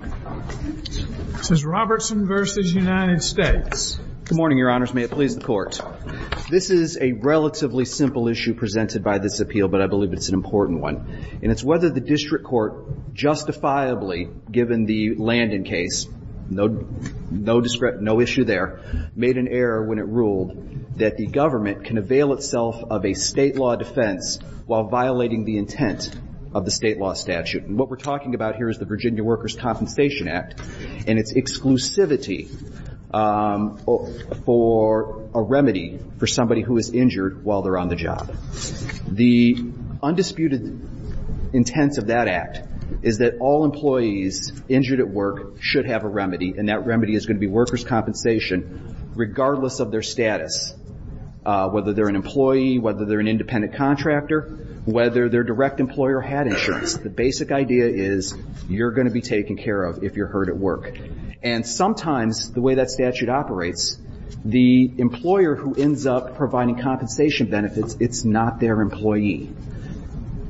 Good morning, Your Honors. May it please the Court. This is a relatively simple issue presented by this appeal, but I believe it's an important one. And it's whether the District Court justifiably given the Landon case, no issue there, made an error when it ruled that the government can avail itself of a state law defense while violating the intent of the state law statute. And what we're talking about here is the Virginia Workers' Conference Statute, and it's a compensation act, and it's exclusivity for a remedy for somebody who is injured while they're on the job. The undisputed intent of that act is that all employees injured at work should have a remedy, and that remedy is going to be workers' compensation regardless of their status, whether they're an employee, whether they're an independent contractor, whether their direct employer had insurance. The basic idea is you're going to be taken care of if you're hurt at work. And sometimes the way that statute operates, the employer who ends up providing compensation benefits, it's not their employee.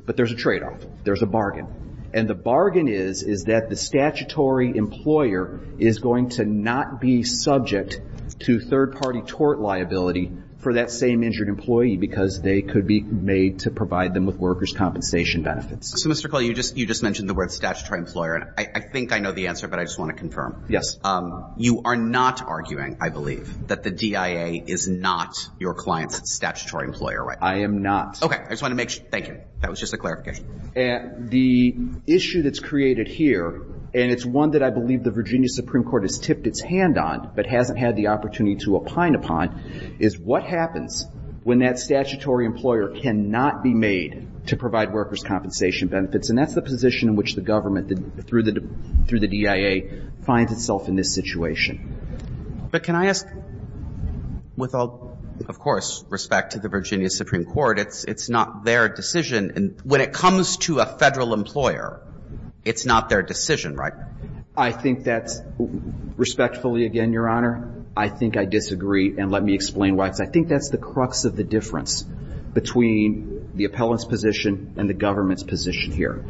But there's a tradeoff. There's a bargain. And the bargain is, is that the statutory employer is going to not be subject to third-party tort liability for that same injured employee because they could be made to provide them with workers' compensation benefits. So, Mr. Culley, you just mentioned the word statutory employer, and I think I know the answer, but I just want to confirm. Yes. You are not arguing, I believe, that the DIA is not your client's statutory employer, right? I am not. Okay. I just want to make sure. Thank you. That was just a clarification. The issue that's created here, and it's one that I believe the Virginia Supreme Court has tipped its hand on but hasn't had the opportunity to opine upon, is what happens when that statutory employer cannot be made to provide workers' compensation benefits. And that's the position in which the government, through the DIA, finds itself in this situation. But can I ask, with all, of course, respect to the Virginia Supreme Court, it's not their decision. When it comes to a Federal employer, it's not their decision, right? I think that's, respectfully, again, Your Honor, I think I disagree. And let me explain why, because I think that's the crux of the difference between the appellant's position and the government's position here.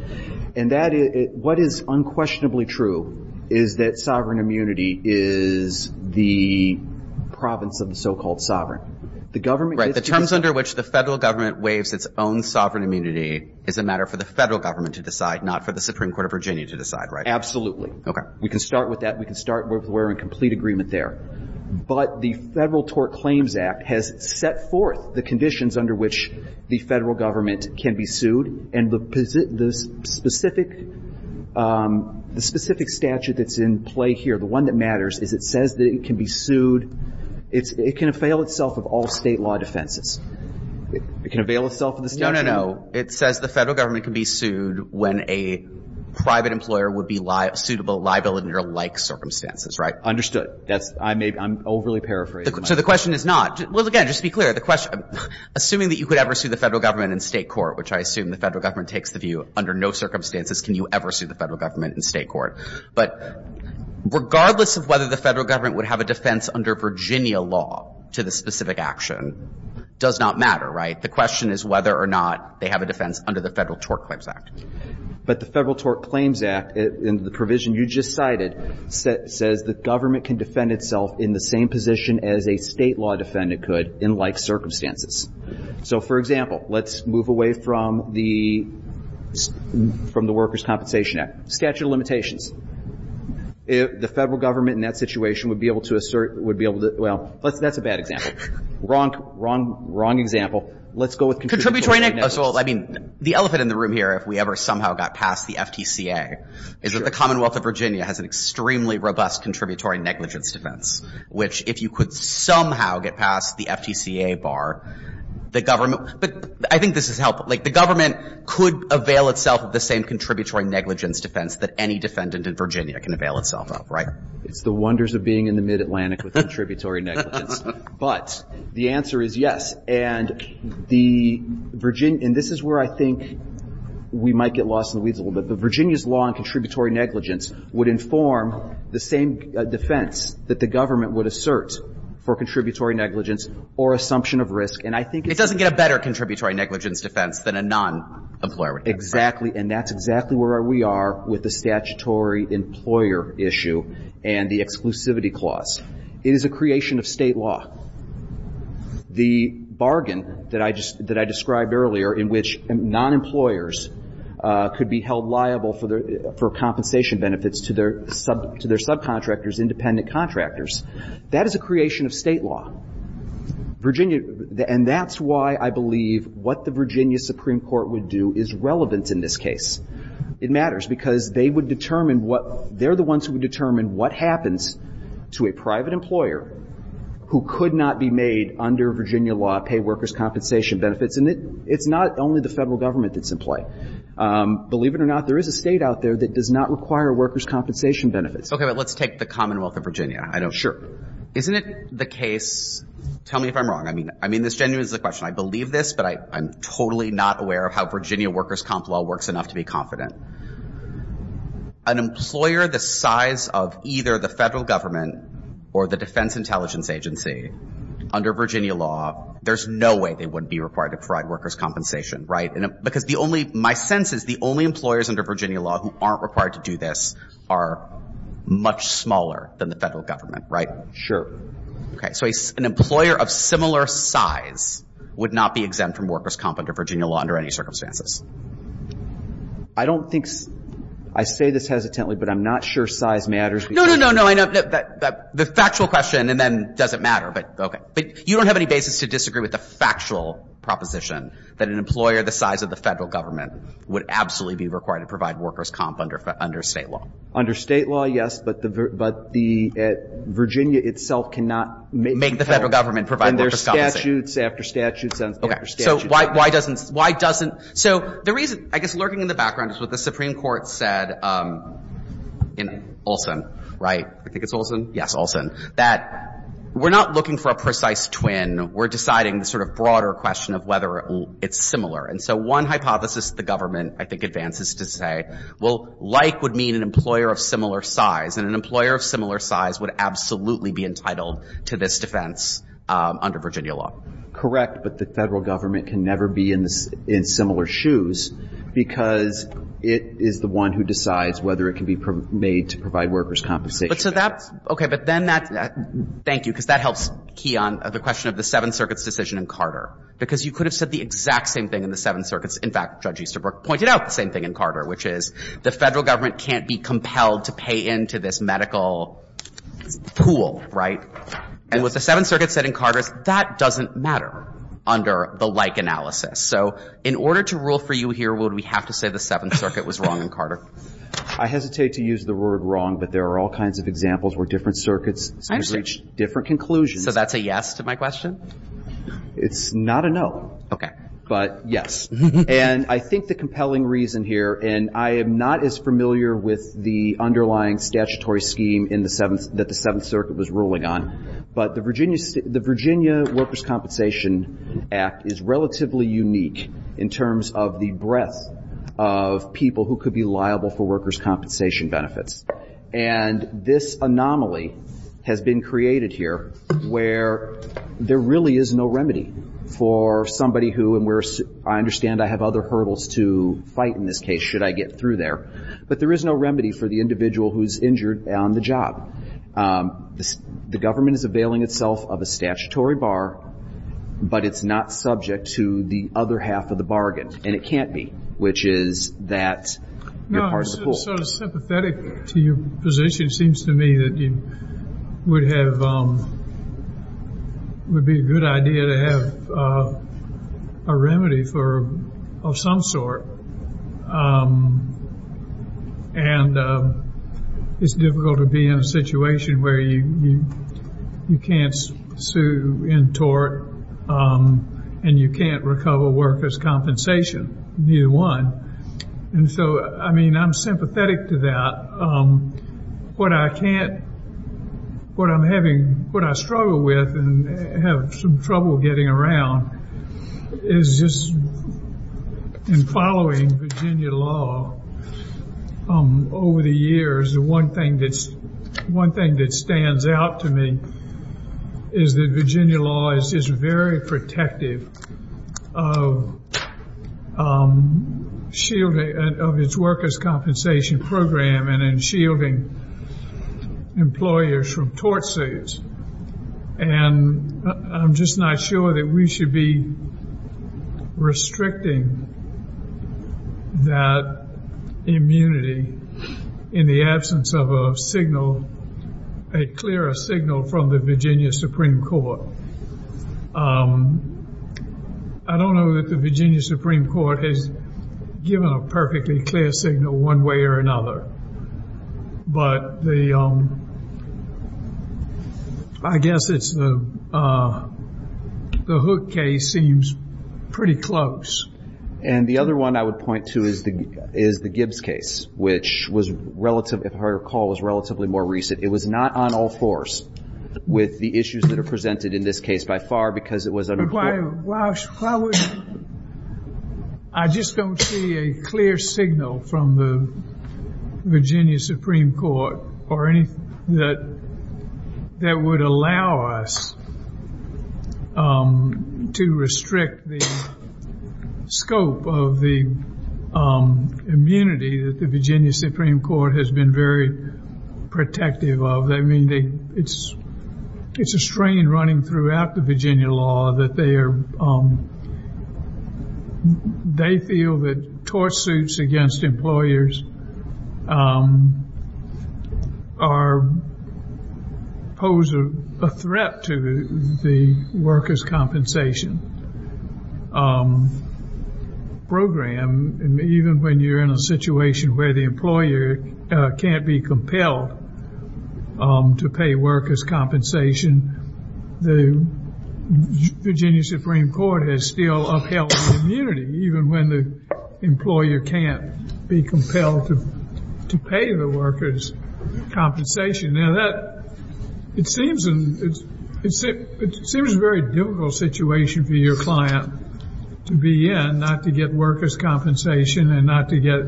And that is, what is unquestionably true is that sovereign immunity is the province of the so-called sovereign. The government... Right. The terms under which the Federal government waives its own sovereign immunity is a matter for the Federal government to decide, not for the Supreme Court of Virginia to decide, right? Absolutely. Okay. We can start with that. We can start where we're in complete agreement there. But the Federal Tort Claims Act has set forth the conditions under which the Federal government can be sued. And the specific statute that's in play here, the one that matters, is it says that it can be sued. It can avail itself of all State law defenses. It can avail itself of the statute. No, no, no. It says the Federal government can be sued when a private employer would be liable under like circumstances, right? Understood. That's, I may, I'm overly paraphrasing. So the question is not, well, again, just to be clear, the question, assuming that you could ever sue the Federal government in State court, which I assume the Federal government takes the view under no circumstances can you ever sue the Federal government in State court. But regardless of whether the Federal government would have a defense under Virginia law to the specific action does not matter, right? The question is whether or not they have a defense under the Federal Tort Claims Act. But the Federal Tort Claims Act, in the provision you just cited, says the government can defend itself in the same position as a State law defendant could in like circumstances. So, for example, let's move away from the, from the Workers' Compensation Act. Statute of limitations. The Federal government in that situation would be able to assert, would be able to, well, that's a bad example. Wrong, wrong, wrong example. Let's go with contributory negligence. So, I mean, the elephant in the room here, if we ever somehow got past the FTCA, is that the Commonwealth of Virginia has an extremely robust contributory negligence defense, which if you could somehow get past the FTCA bar, the government – but I think this is helpful. Like, the government could avail itself of the same contributory negligence defense that any defendant in Virginia can avail itself of, right? It's the wonders of being in the Mid-Atlantic with contributory negligence. But the answer is yes. And the Virginia, and this is where I think we might get lost in the weeds a little bit, but Virginia's law on contributory negligence would inform the same defense that the government would assert for contributory negligence or assumption of risk. And I think it's – It doesn't get a better contributory negligence defense than a non-employer would get, right? Exactly. And that's exactly where we are with the statutory employer issue and the state law. The bargain that I just – that I described earlier in which non-employers could be held liable for compensation benefits to their subcontractors, independent contractors, that is a creation of state law. Virginia – and that's why I believe what the Virginia Supreme Court would do is relevant in this case. It matters because they would determine what – they're who could not be made under Virginia law pay workers' compensation benefits. And it's not only the federal government that's in play. Believe it or not, there is a state out there that does not require workers' compensation benefits. Okay. But let's take the Commonwealth of Virginia. Sure. Isn't it the case – tell me if I'm wrong. I mean, this genuinely is a question. I believe this, but I'm totally not aware of how Virginia workers' comp law works enough to be confident. An employer the size of either the federal government or the Defense Intelligence Agency under Virginia law, there's no way they would be required to provide workers' compensation, right? Because the only – my sense is the only employers under Virginia law who aren't required to do this are much smaller than the federal government, right? Sure. Okay. So an employer of similar size would not be exempt from workers' comp under Virginia law under any circumstances. I don't think – I say this hesitantly, but I'm not sure size matters. No, no, no, no. I know – the factual question and then does it matter, but okay. But you don't have any basis to disagree with the factual proposition that an employer the size of the federal government would absolutely be required to provide workers' comp under state law. Under state law, yes, but the – but the – Virginia itself cannot make the federal government provide workers' compensation. And there are statutes after statutes after statutes. Okay. So why doesn't – why doesn't – so the reason, I guess, lurking in the court said in Olson, right? I think it's Olson. Yes, Olson. That we're not looking for a precise twin. We're deciding the sort of broader question of whether it's similar. And so one hypothesis the government, I think, advances to say, well, like would mean an employer of similar size, and an employer of similar size would absolutely be entitled to this defense under Virginia law. Correct. But the federal government can never be in similar shoes because it is the one who decides whether it can be made to provide workers' compensation. But to that – okay. But then that – thank you, because that helps key on the question of the Seventh Circuit's decision in Carter, because you could have said the exact same thing in the Seventh Circuit's – in fact, Judge Easterbrook pointed out the same thing in Carter, which is the federal government can't be compelled to pay into this medical pool, right? And what the Seventh Circuit said in Carter is that doesn't matter under the like analysis. So in order to rule for you here, would we have to say the Seventh Circuit was wrong in Carter? I hesitate to use the word wrong, but there are all kinds of examples where different circuits can reach different conclusions. So that's a yes to my question? It's not a no. Okay. But yes. And I think the compelling reason here – and I am not as familiar with the underlying statutory scheme in the – that the Seventh Circuit was ruling on. But the Virginia Workers' Compensation Act is relatively unique in terms of the breadth of people who could be liable for workers' compensation benefits. And this anomaly has been created here where there really is no remedy for somebody who – and I understand I have other hurdles to fight in this case, should I get through there – but there is no remedy for the individual who is injured on the job. The government is availing itself of a statutory bar, but it's not subject to the other half of the bargain, and it can't be, which is that you're part of the pool. No, I'm just sort of sympathetic to your position. It seems to me that you would have – would be a good idea to have a remedy for – of some sort. And it's difficult to be in a situation where you can't sue in tort and you can't recover workers' compensation, neither one. And so, I mean, I'm sympathetic to that. What I can't – what I'm having – what I struggle with and have some trouble getting around is just in following Virginia law over the years, the one thing that stands out to me is that Virginia law is just very protective of shielding – of its workers' compensation program and in shielding employers from tort suits. And I'm just not sure that we should be restricting that immunity in the absence of a signal – a clearer signal from the Virginia Supreme Court. I don't know that the Virginia Supreme Court has given a perfectly clear signal one way or another, but the – I guess it's the – the Hook case seems pretty close. And the other one I would point to is the Gibbs case, which was relative – it was not on all fours with the issues that are presented in this case by far because it was – But why – why would – I just don't see a clear signal from the Virginia Supreme Court or anything that – that would allow us to restrict the scope of the immunity that the Virginia Supreme Court has been very protective of. I mean, they – it's a strain running throughout the Virginia law that they are – they feel that tort suits against employers are – pose a threat to the workers' compensation program. And even when you're in a situation where the employer can't be compelled to pay workers' compensation, the Virginia Supreme Court has still upheld immunity, even when the employer can't be compelled to pay the workers' compensation. Now, that – it seems – it seems a very difficult situation for your client to be in, not to get workers' compensation and not to get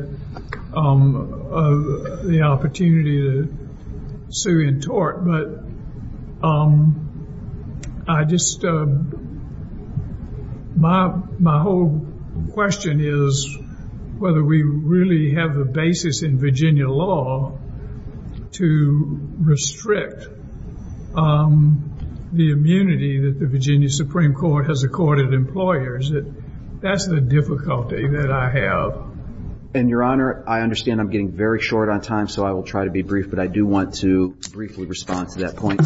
the opportunity to sue in tort. But I just – my whole question is whether we really have the basis in Virginia law to restrict the immunity that the Virginia Supreme Court has accorded employers. That's the difficulty that I have. And, Your Honor, I understand I'm getting very short on time, so I will try to be brief. But I do want to briefly respond to that point.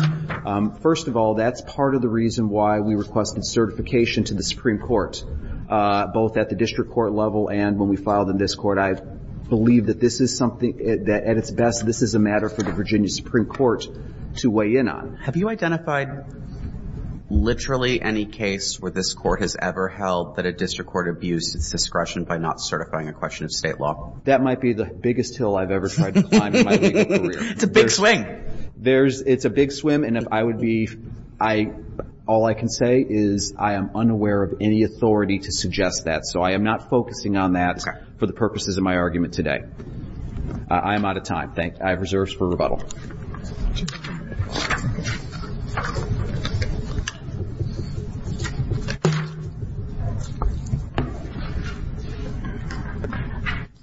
First of all, that's part of the reason why we requested certification to the Supreme Court, both at the district court level and when we filed in this court. I believe that this is something that, at its best, this is a matter for the Virginia Supreme Court to weigh in on. Have you identified literally any case where this court has ever held that a district court abused its discretion by not certifying a question of state law? Well, that might be the biggest hill I've ever tried to climb in my legal career. It's a big swing. It's a big swim, and if I would be – all I can say is I am unaware of any authority to suggest that. So I am not focusing on that for the purposes of my argument today. I am out of time. I have reserves for rebuttal.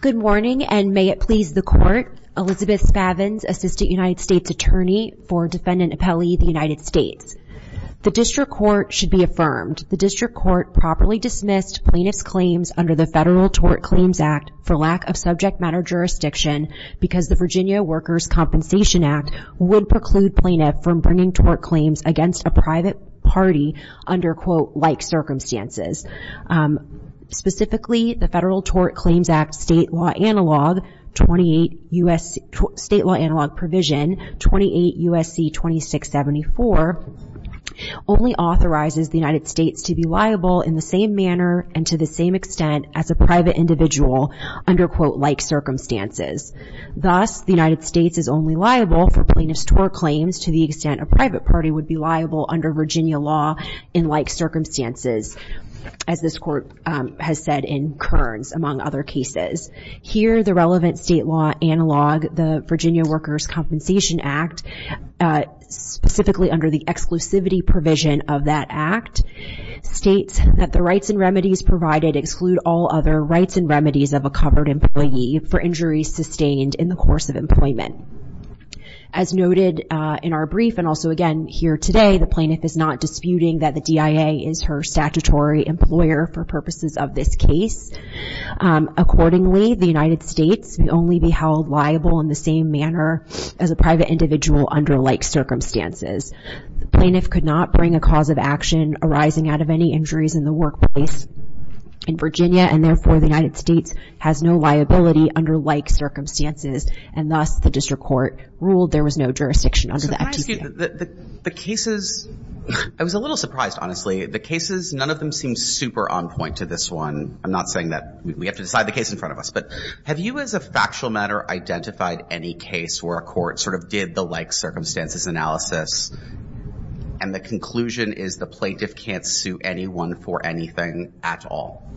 Good morning, and may it please the Court, Elizabeth Spavans, Assistant United States Attorney for Defendant Appellee of the United States. The district court should be affirmed. The district court properly dismissed plaintiff's claims under the Federal Tort Claims Act for lack of subject matter jurisdiction because the Virginia Workers' Compensation Act would preclude plaintiff from bringing tort claims against a private party under, quote, Specifically, the Federal Tort Claims Act State Law Analog Provision 28 U.S.C. 2674 only authorizes the United States to be liable in the same manner and to the same extent as a private individual under, quote, Thus, the United States is only liable for plaintiff's tort claims to the extent a private party would be liable under Virginia law in like circumstances, as this Court has said in Kearns, among other cases. Here, the relevant state law analog, the Virginia Workers' Compensation Act, specifically under the exclusivity provision of that act, states that the rights and remedies provided exclude all other rights and remedies of a covered employee for injuries sustained in the course of employment. As noted in our brief and also again here today, the plaintiff is not disputing that the DIA is her statutory employer for purposes of this case. Accordingly, the United States may only be held liable in the same manner as a private individual under like circumstances. The plaintiff could not bring a cause of action arising out of any injuries in the workplace in Virginia, and therefore, the United States has no liability under like circumstances. And thus, the district court ruled there was no jurisdiction under the FTC. So can I ask you, the cases, I was a little surprised, honestly. The cases, none of them seem super on point to this one. I'm not saying that we have to decide the case in front of us, but have you as a factual matter identified any case where a court sort of did the like circumstances analysis and the conclusion is the plaintiff can't sue anyone for anything at all?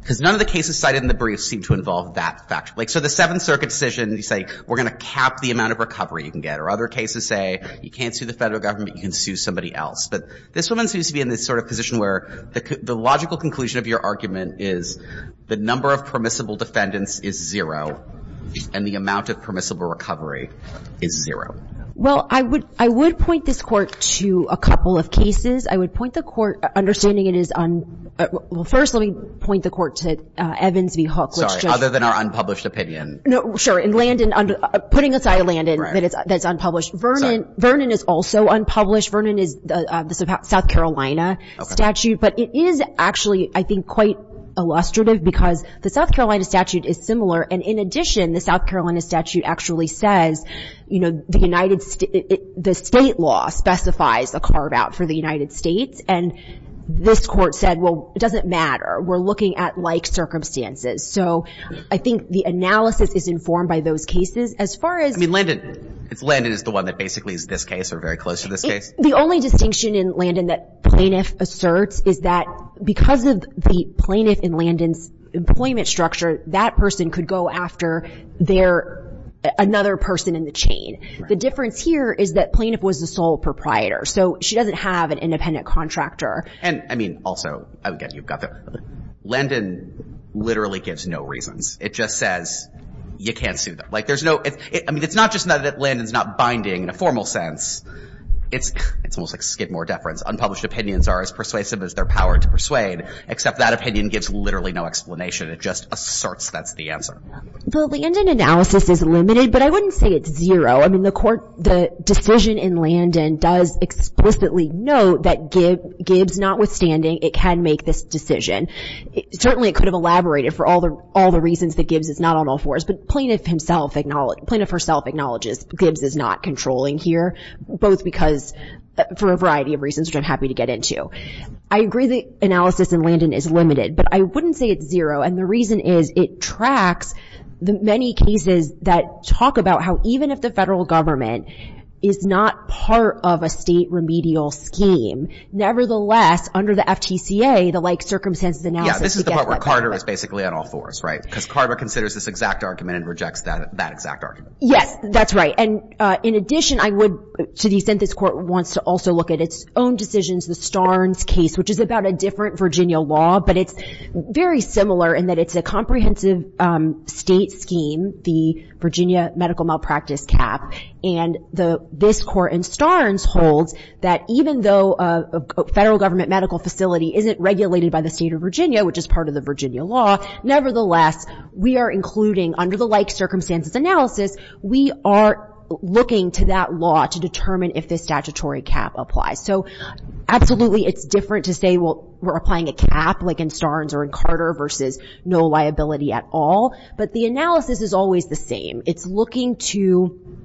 Because none of the cases cited in the brief seem to involve that fact. Like so the Seventh Circuit decision, you say, we're going to cap the amount of recovery you can get. Or other cases say you can't sue the federal government, you can sue somebody else. But this woman seems to be in this sort of position where the logical conclusion of your argument is the number of permissible defendants is zero and the amount of permissible recovery is zero. Well, I would point this court to a couple of cases. I would point the court, understanding it is on, well first let me point the court to Evans v. Hook. Sorry, other than our unpublished opinion. No, sure. And Landon, putting aside Landon, that's unpublished. Vernon is also unpublished. Vernon is the South Carolina statute. But it is actually, I think, quite illustrative because the South Carolina statute is similar. And in addition, the South Carolina statute actually says, you know, the state law specifies a carve-out for the United States. And this court said, well, it doesn't matter. We're looking at like circumstances. So I think the analysis is informed by those cases. I mean, Landon is the one that basically is this case or very close to this case. The only distinction in Landon that plaintiff asserts is that because of the plaintiff in Landon's employment structure, that person could go after their, another person in the chain. The difference here is that plaintiff was the sole proprietor. So she doesn't have an independent contractor. And, I mean, also, again, you've got the, Landon literally gives no reasons. It just says you can't sue them. Like there's no, I mean, it's not just that Landon's not binding in a formal sense. It's almost like Skidmore deference. Unpublished opinions are as persuasive as their power to persuade, except that opinion gives literally no explanation. It just asserts that's the answer. The Landon analysis is limited, but I wouldn't say it's zero. I mean, the court, the decision in Landon does explicitly note that Gibbs, notwithstanding, it can make this decision. Certainly it could have elaborated for all the reasons that Gibbs is not on all fours. But plaintiff himself, plaintiff herself acknowledges Gibbs is not controlling here, both because, for a variety of reasons, which I'm happy to get into. I agree the analysis in Landon is limited, but I wouldn't say it's zero. And the reason is it tracks the many cases that talk about how even if the federal government is not part of a state remedial scheme, nevertheless, under the FTCA, the like circumstances analysis. Yeah, this is the part where Carter is basically on all fours, right? Because Carter considers this exact argument and rejects that exact argument. Yes, that's right. And in addition, I would, to the extent this court wants to also look at its own decisions, the Starnes case, which is about a different Virginia law, but it's very similar in that it's a comprehensive state scheme, the Virginia medical malpractice cap. And this court in Starnes holds that even though a federal government medical facility isn't regulated by the state of Virginia, which is part of the Virginia law, nevertheless, we are including, under the like circumstances analysis, we are looking to that law to determine if this statutory cap applies. So absolutely it's different to say, well, we're applying a cap like in Starnes or in Carter versus no liability at all. But the analysis is always the same. It's looking to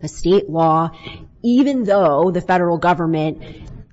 a state law even though the federal government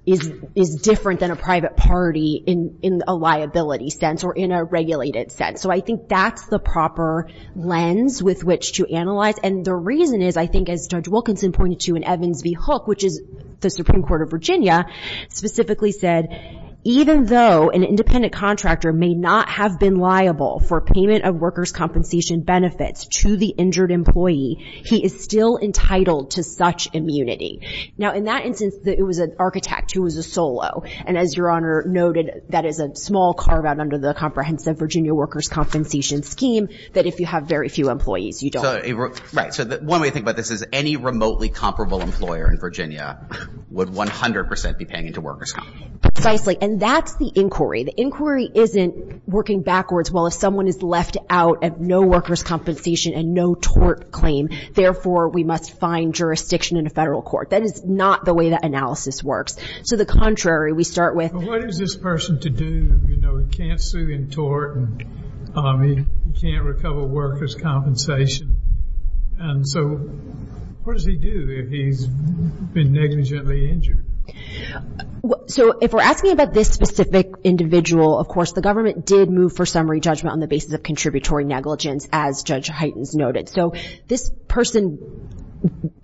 is different than a private party in a liability sense or in a regulated sense. So I think that's the proper lens with which to analyze. And the reason is I think as Judge Wilkinson pointed to in Evans v. Hook, which is the Supreme Court of Virginia, specifically said, even though an independent contractor may not have been liable for payment of workers' compensation benefits to the injured employee, he is still entitled to such immunity. Now, in that instance, it was an architect who was a solo. And as Your Honor noted, that is a small carve-out under the comprehensive Virginia workers' compensation scheme that if you have very few employees, you don't. Right. So one way to think about this is any remotely comparable employer in Virginia would 100% be paying into workers' comp. Precisely. And that's the inquiry. The inquiry isn't working backwards. Well, if someone is left out of no workers' compensation and no tort claim, therefore we must find jurisdiction in a federal court. That is not the way that analysis works. So the contrary, we start with. What is this person to do? You know, he can't sue in tort and he can't recover workers' compensation. And so what does he do if he's been negligently injured? So if we're asking about this specific individual, of course, the government did move for summary judgment on the basis of contributory negligence, as Judge Heitens noted. So this person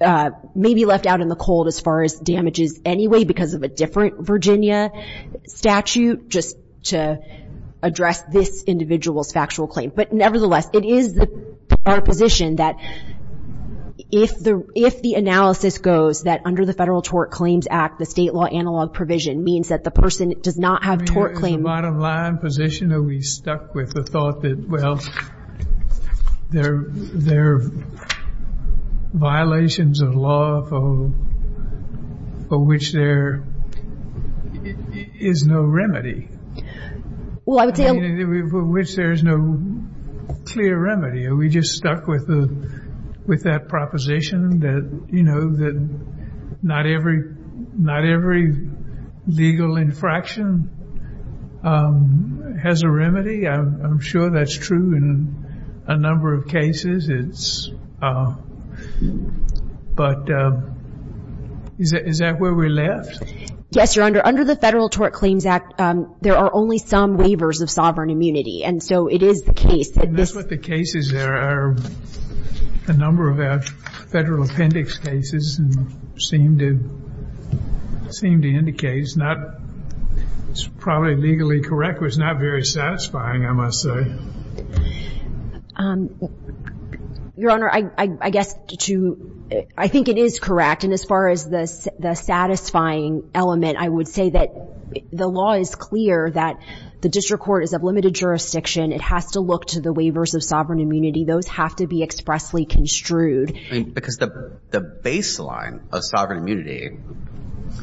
may be left out in the cold as far as damages anyway because of a different Virginia statute just to address this individual's factual claim. But nevertheless, it is our position that if the analysis goes that under the Federal Tort Claims Act, the state law analog provision means that the person does not have tort claim. The bottom line position that we stuck with, was the thought that, well, there are violations of law for which there is no remedy. For which there is no clear remedy. Are we just stuck with that proposition that not every legal infraction has a remedy? I'm sure that's true in a number of cases. But is that where we're left? Yes, Your Honor. Under the Federal Tort Claims Act, there are only some waivers of sovereign immunity. And so it is the case that this... And that's what the cases there are. A number of our federal appendix cases seem to indicate. It's probably legally correct, but it's not very satisfying, I must say. Your Honor, I think it is correct. And as far as the satisfying element, I would say that the law is clear that the district court is of limited jurisdiction. It has to look to the waivers of sovereign immunity. Those have to be expressly construed. Because the baseline of sovereign immunity,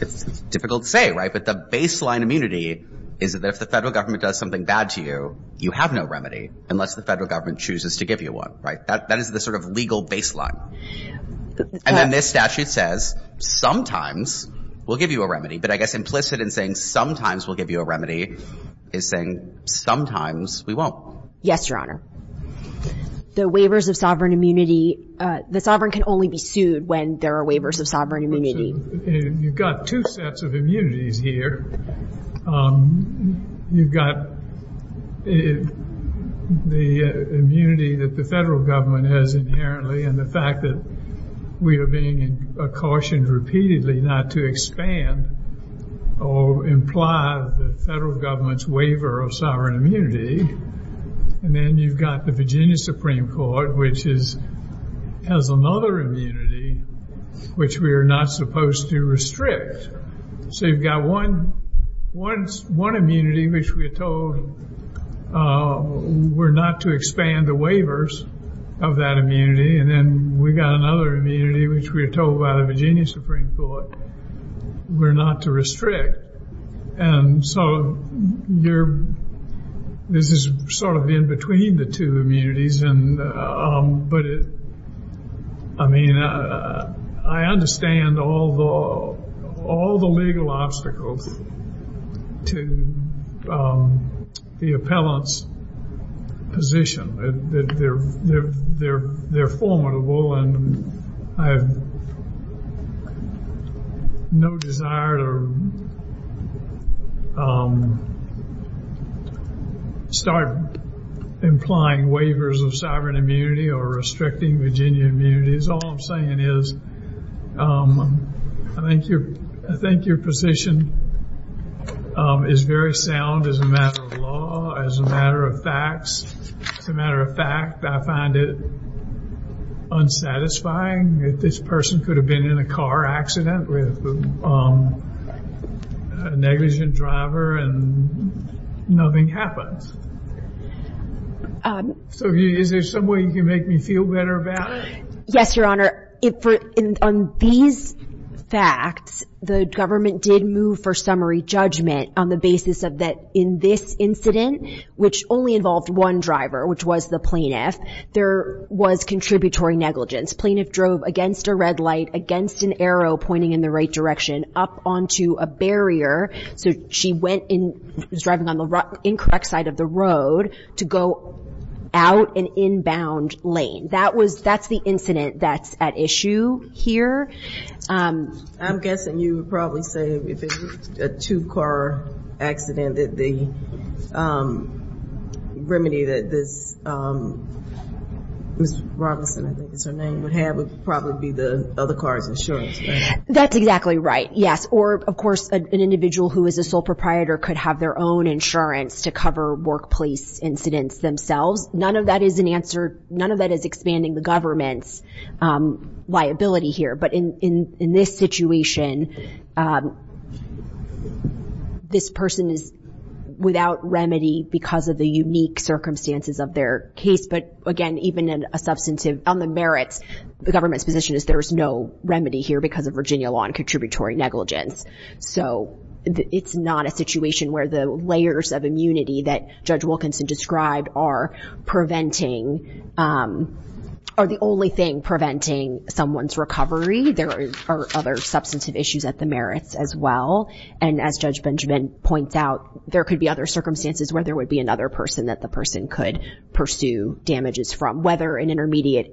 it's difficult to say, right? But the baseline immunity is that if the federal government does something bad to you, you have no remedy unless the federal government chooses to give you one, right? That is the sort of legal baseline. And then this statute says sometimes we'll give you a remedy. But I guess implicit in saying sometimes we'll give you a remedy is saying sometimes we won't. Yes, Your Honor. The waivers of sovereign immunity, the sovereign can only be sued when there are waivers of sovereign immunity. You've got two sets of immunities here. You've got the immunity that the federal government has inherently and the fact that we are being cautioned repeatedly not to expand or imply the federal government's waiver of sovereign immunity. And then you've got the Virginia Supreme Court, which has another immunity which we are not supposed to restrict. So you've got one immunity which we are told we're not to expand the waivers of that immunity. And then we've got another immunity which we are told by the Virginia Supreme Court we're not to restrict. And so this is sort of in between the two immunities. But I mean, I understand all the legal obstacles to the appellant's position. They're formidable and I have no desire to start implying waivers of sovereign immunity or restricting Virginia immunities. All I'm saying is I think your position is very sound as a matter of law, as a matter of facts. As a matter of fact, I find it unsatisfying that this person could have been in a car accident with a negligent driver and nothing happened. So is there some way you can make me feel better about it? Yes, Your Honor. On these facts, the government did move for summary judgment on the basis of that in this incident, which only involved one driver, which was the plaintiff, there was contributory negligence. Plaintiff drove against a red light, against an arrow pointing in the right direction, up onto a barrier. So she was driving on the incorrect side of the road to go out an inbound lane. That's the incident that's at issue here. I'm guessing you would probably say if it was a two-car accident that the remedy that Ms. Robinson, I think is her name, would have would probably be the other car's insurance, right? That's exactly right, yes. Or, of course, an individual who is a sole proprietor could have their own insurance to cover workplace incidents themselves. None of that is expanding the government's liability here. But in this situation, this person is without remedy because of the unique circumstances of their case. But, again, even on the merits, the government's position is there is no remedy here because of Virginia law and contributory negligence. So it's not a situation where the layers of immunity that Judge Wilkinson described are the only thing preventing someone's recovery. There are other substantive issues at the merits as well. And as Judge Benjamin points out, there could be other circumstances where there would be another person that the person could pursue damages from, whether an intermediate,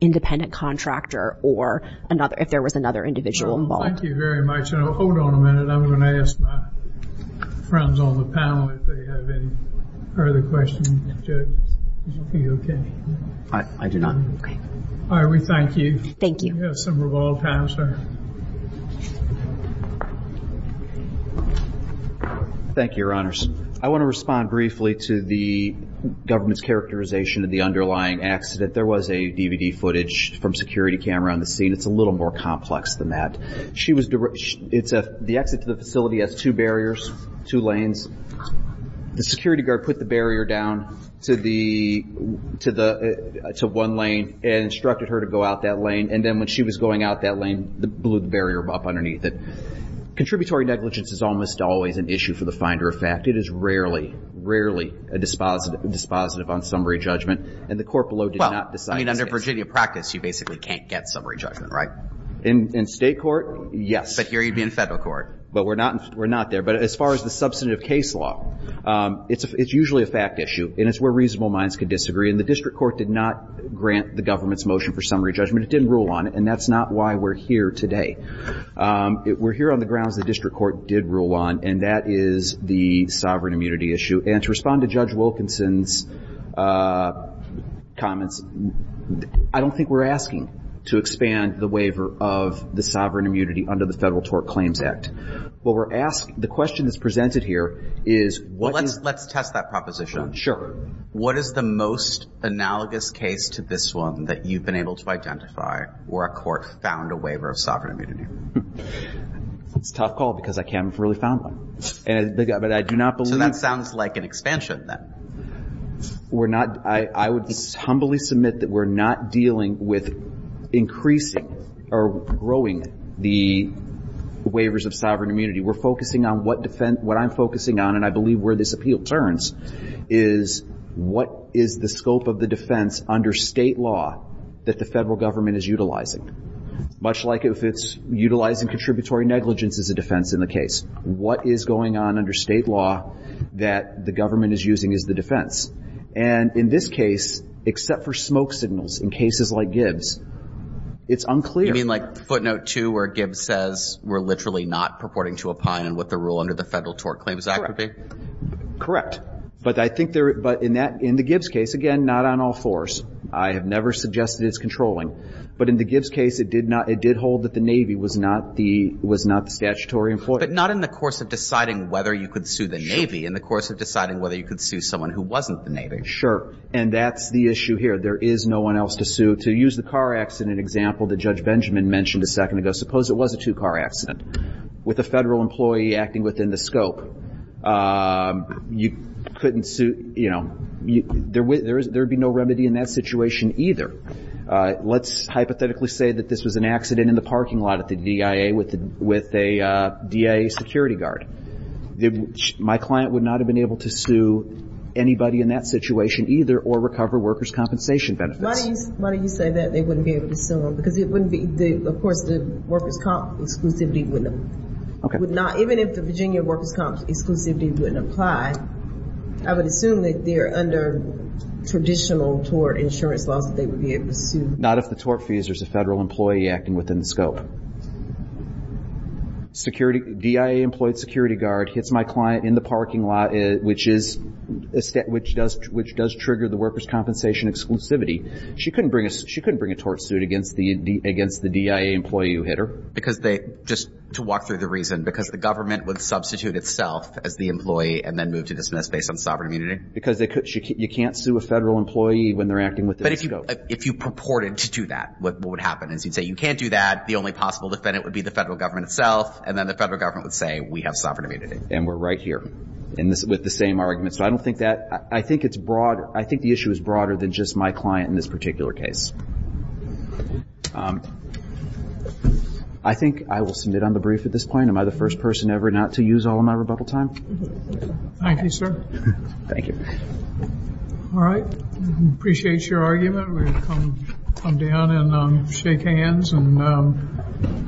independent contractor, or if there was another individual involved. Thank you very much. Hold on a minute. I'm going to ask my friends on the panel if they have any further questions. Are you okay? I do not. Okay. All right. We thank you. Thank you. You have some revolve time, sir. Thank you, Your Honors. I want to respond briefly to the government's characterization of the underlying accident. There was a DVD footage from security camera on the scene. It's a little more complex than that. The exit to the facility has two barriers, two lanes. The security guard put the barrier down to one lane and instructed her to go out that lane. And then when she was going out that lane, they blew the barrier up underneath it. Contributory negligence is almost always an issue for the finder of fact. It is rarely, rarely a dispositive on summary judgment. And the court below did not decide this case. Well, I mean, under Virginia practice, you basically can't get summary judgment, right? In state court, yes. But here you'd be in federal court. But we're not there. But as far as the substantive case law, it's usually a fact issue, and it's where reasonable minds can disagree. And the district court did not grant the government's motion for summary judgment. It didn't rule on it, and that's not why we're here today. We're here on the grounds the district court did rule on, and that is the sovereign immunity issue. And to respond to Judge Wilkinson's comments, I don't think we're asking to expand the waiver of the sovereign immunity under the Federal Tort Claims Act. What we're asking, the question that's presented here is what is... Well, let's test that proposition. Sure. What is the most analogous case to this one that you've been able to identify where a court found a waiver of sovereign immunity? It's a tough call because I can't really find one. But I do not believe... So that sounds like an expansion then. We're not... I would humbly submit that we're not dealing with increasing or growing the waivers of sovereign immunity. We're focusing on what defense... What I'm focusing on, and I believe where this appeal turns, is what is the scope of the defense under state law that the federal government is utilizing, much like if it's utilizing contributory negligence as a defense in the case. What is going on under state law that the government is using as the defense? And in this case, except for smoke signals in cases like Gibbs, it's unclear. You mean like footnote 2 where Gibbs says we're literally not purporting to opine in what the rule under the Federal Tort Claims Act would be? Correct. Correct. But I think there... But in the Gibbs case, again, not on all fours. I have never suggested it's controlling. But in the Gibbs case, it did hold that the Navy was not the statutory employer. But not in the course of deciding whether you could sue the Navy. In the course of deciding whether you could sue someone who wasn't the Navy. Sure. And that's the issue here. There is no one else to sue. To use the car accident example that Judge Benjamin mentioned a second ago, suppose it was a two-car accident with a Federal employee acting within the scope. You couldn't sue... There would be no remedy in that situation either. Let's hypothetically say that this was an accident in the parking lot at the DIA with a DIA security guard. My client would not have been able to sue anybody in that situation either or recover workers' compensation benefits. Why do you say that they wouldn't be able to sue them? Because it wouldn't be... Of course, the workers' comp exclusivity would not... Okay. Even if the Virginia workers' comp exclusivity wouldn't apply, I would assume that they are under traditional tort insurance laws that they would be able to sue. Not if the tort fee is there's a Federal employee acting within the scope. DIA-employed security guard hits my client in the parking lot, which does trigger the workers' compensation exclusivity. She couldn't bring a tort suit against the DIA employee who hit her. Because they... Just to walk through the reason, because the government would substitute itself as the employee and then move to dismiss based on sovereign immunity? Because you can't sue a Federal employee when they're acting within the scope. But if you purported to do that, what would happen is you'd say you can't do that, the only possible defendant would be the Federal government itself, and then the Federal government would say we have sovereign immunity. And we're right here with the same argument. So I don't think that... I think it's broad... I think the issue is broader than just my client in this particular case. I think I will submit on the brief at this point. Am I the first person ever not to use all of my rebuttal time? Thank you, sir. Thank you. All right. I appreciate your argument. We'll come down and shake hands and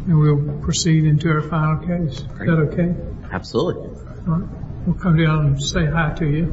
we'll proceed into our final case. Is that okay? Absolutely. All right. We'll come down and say hi to you.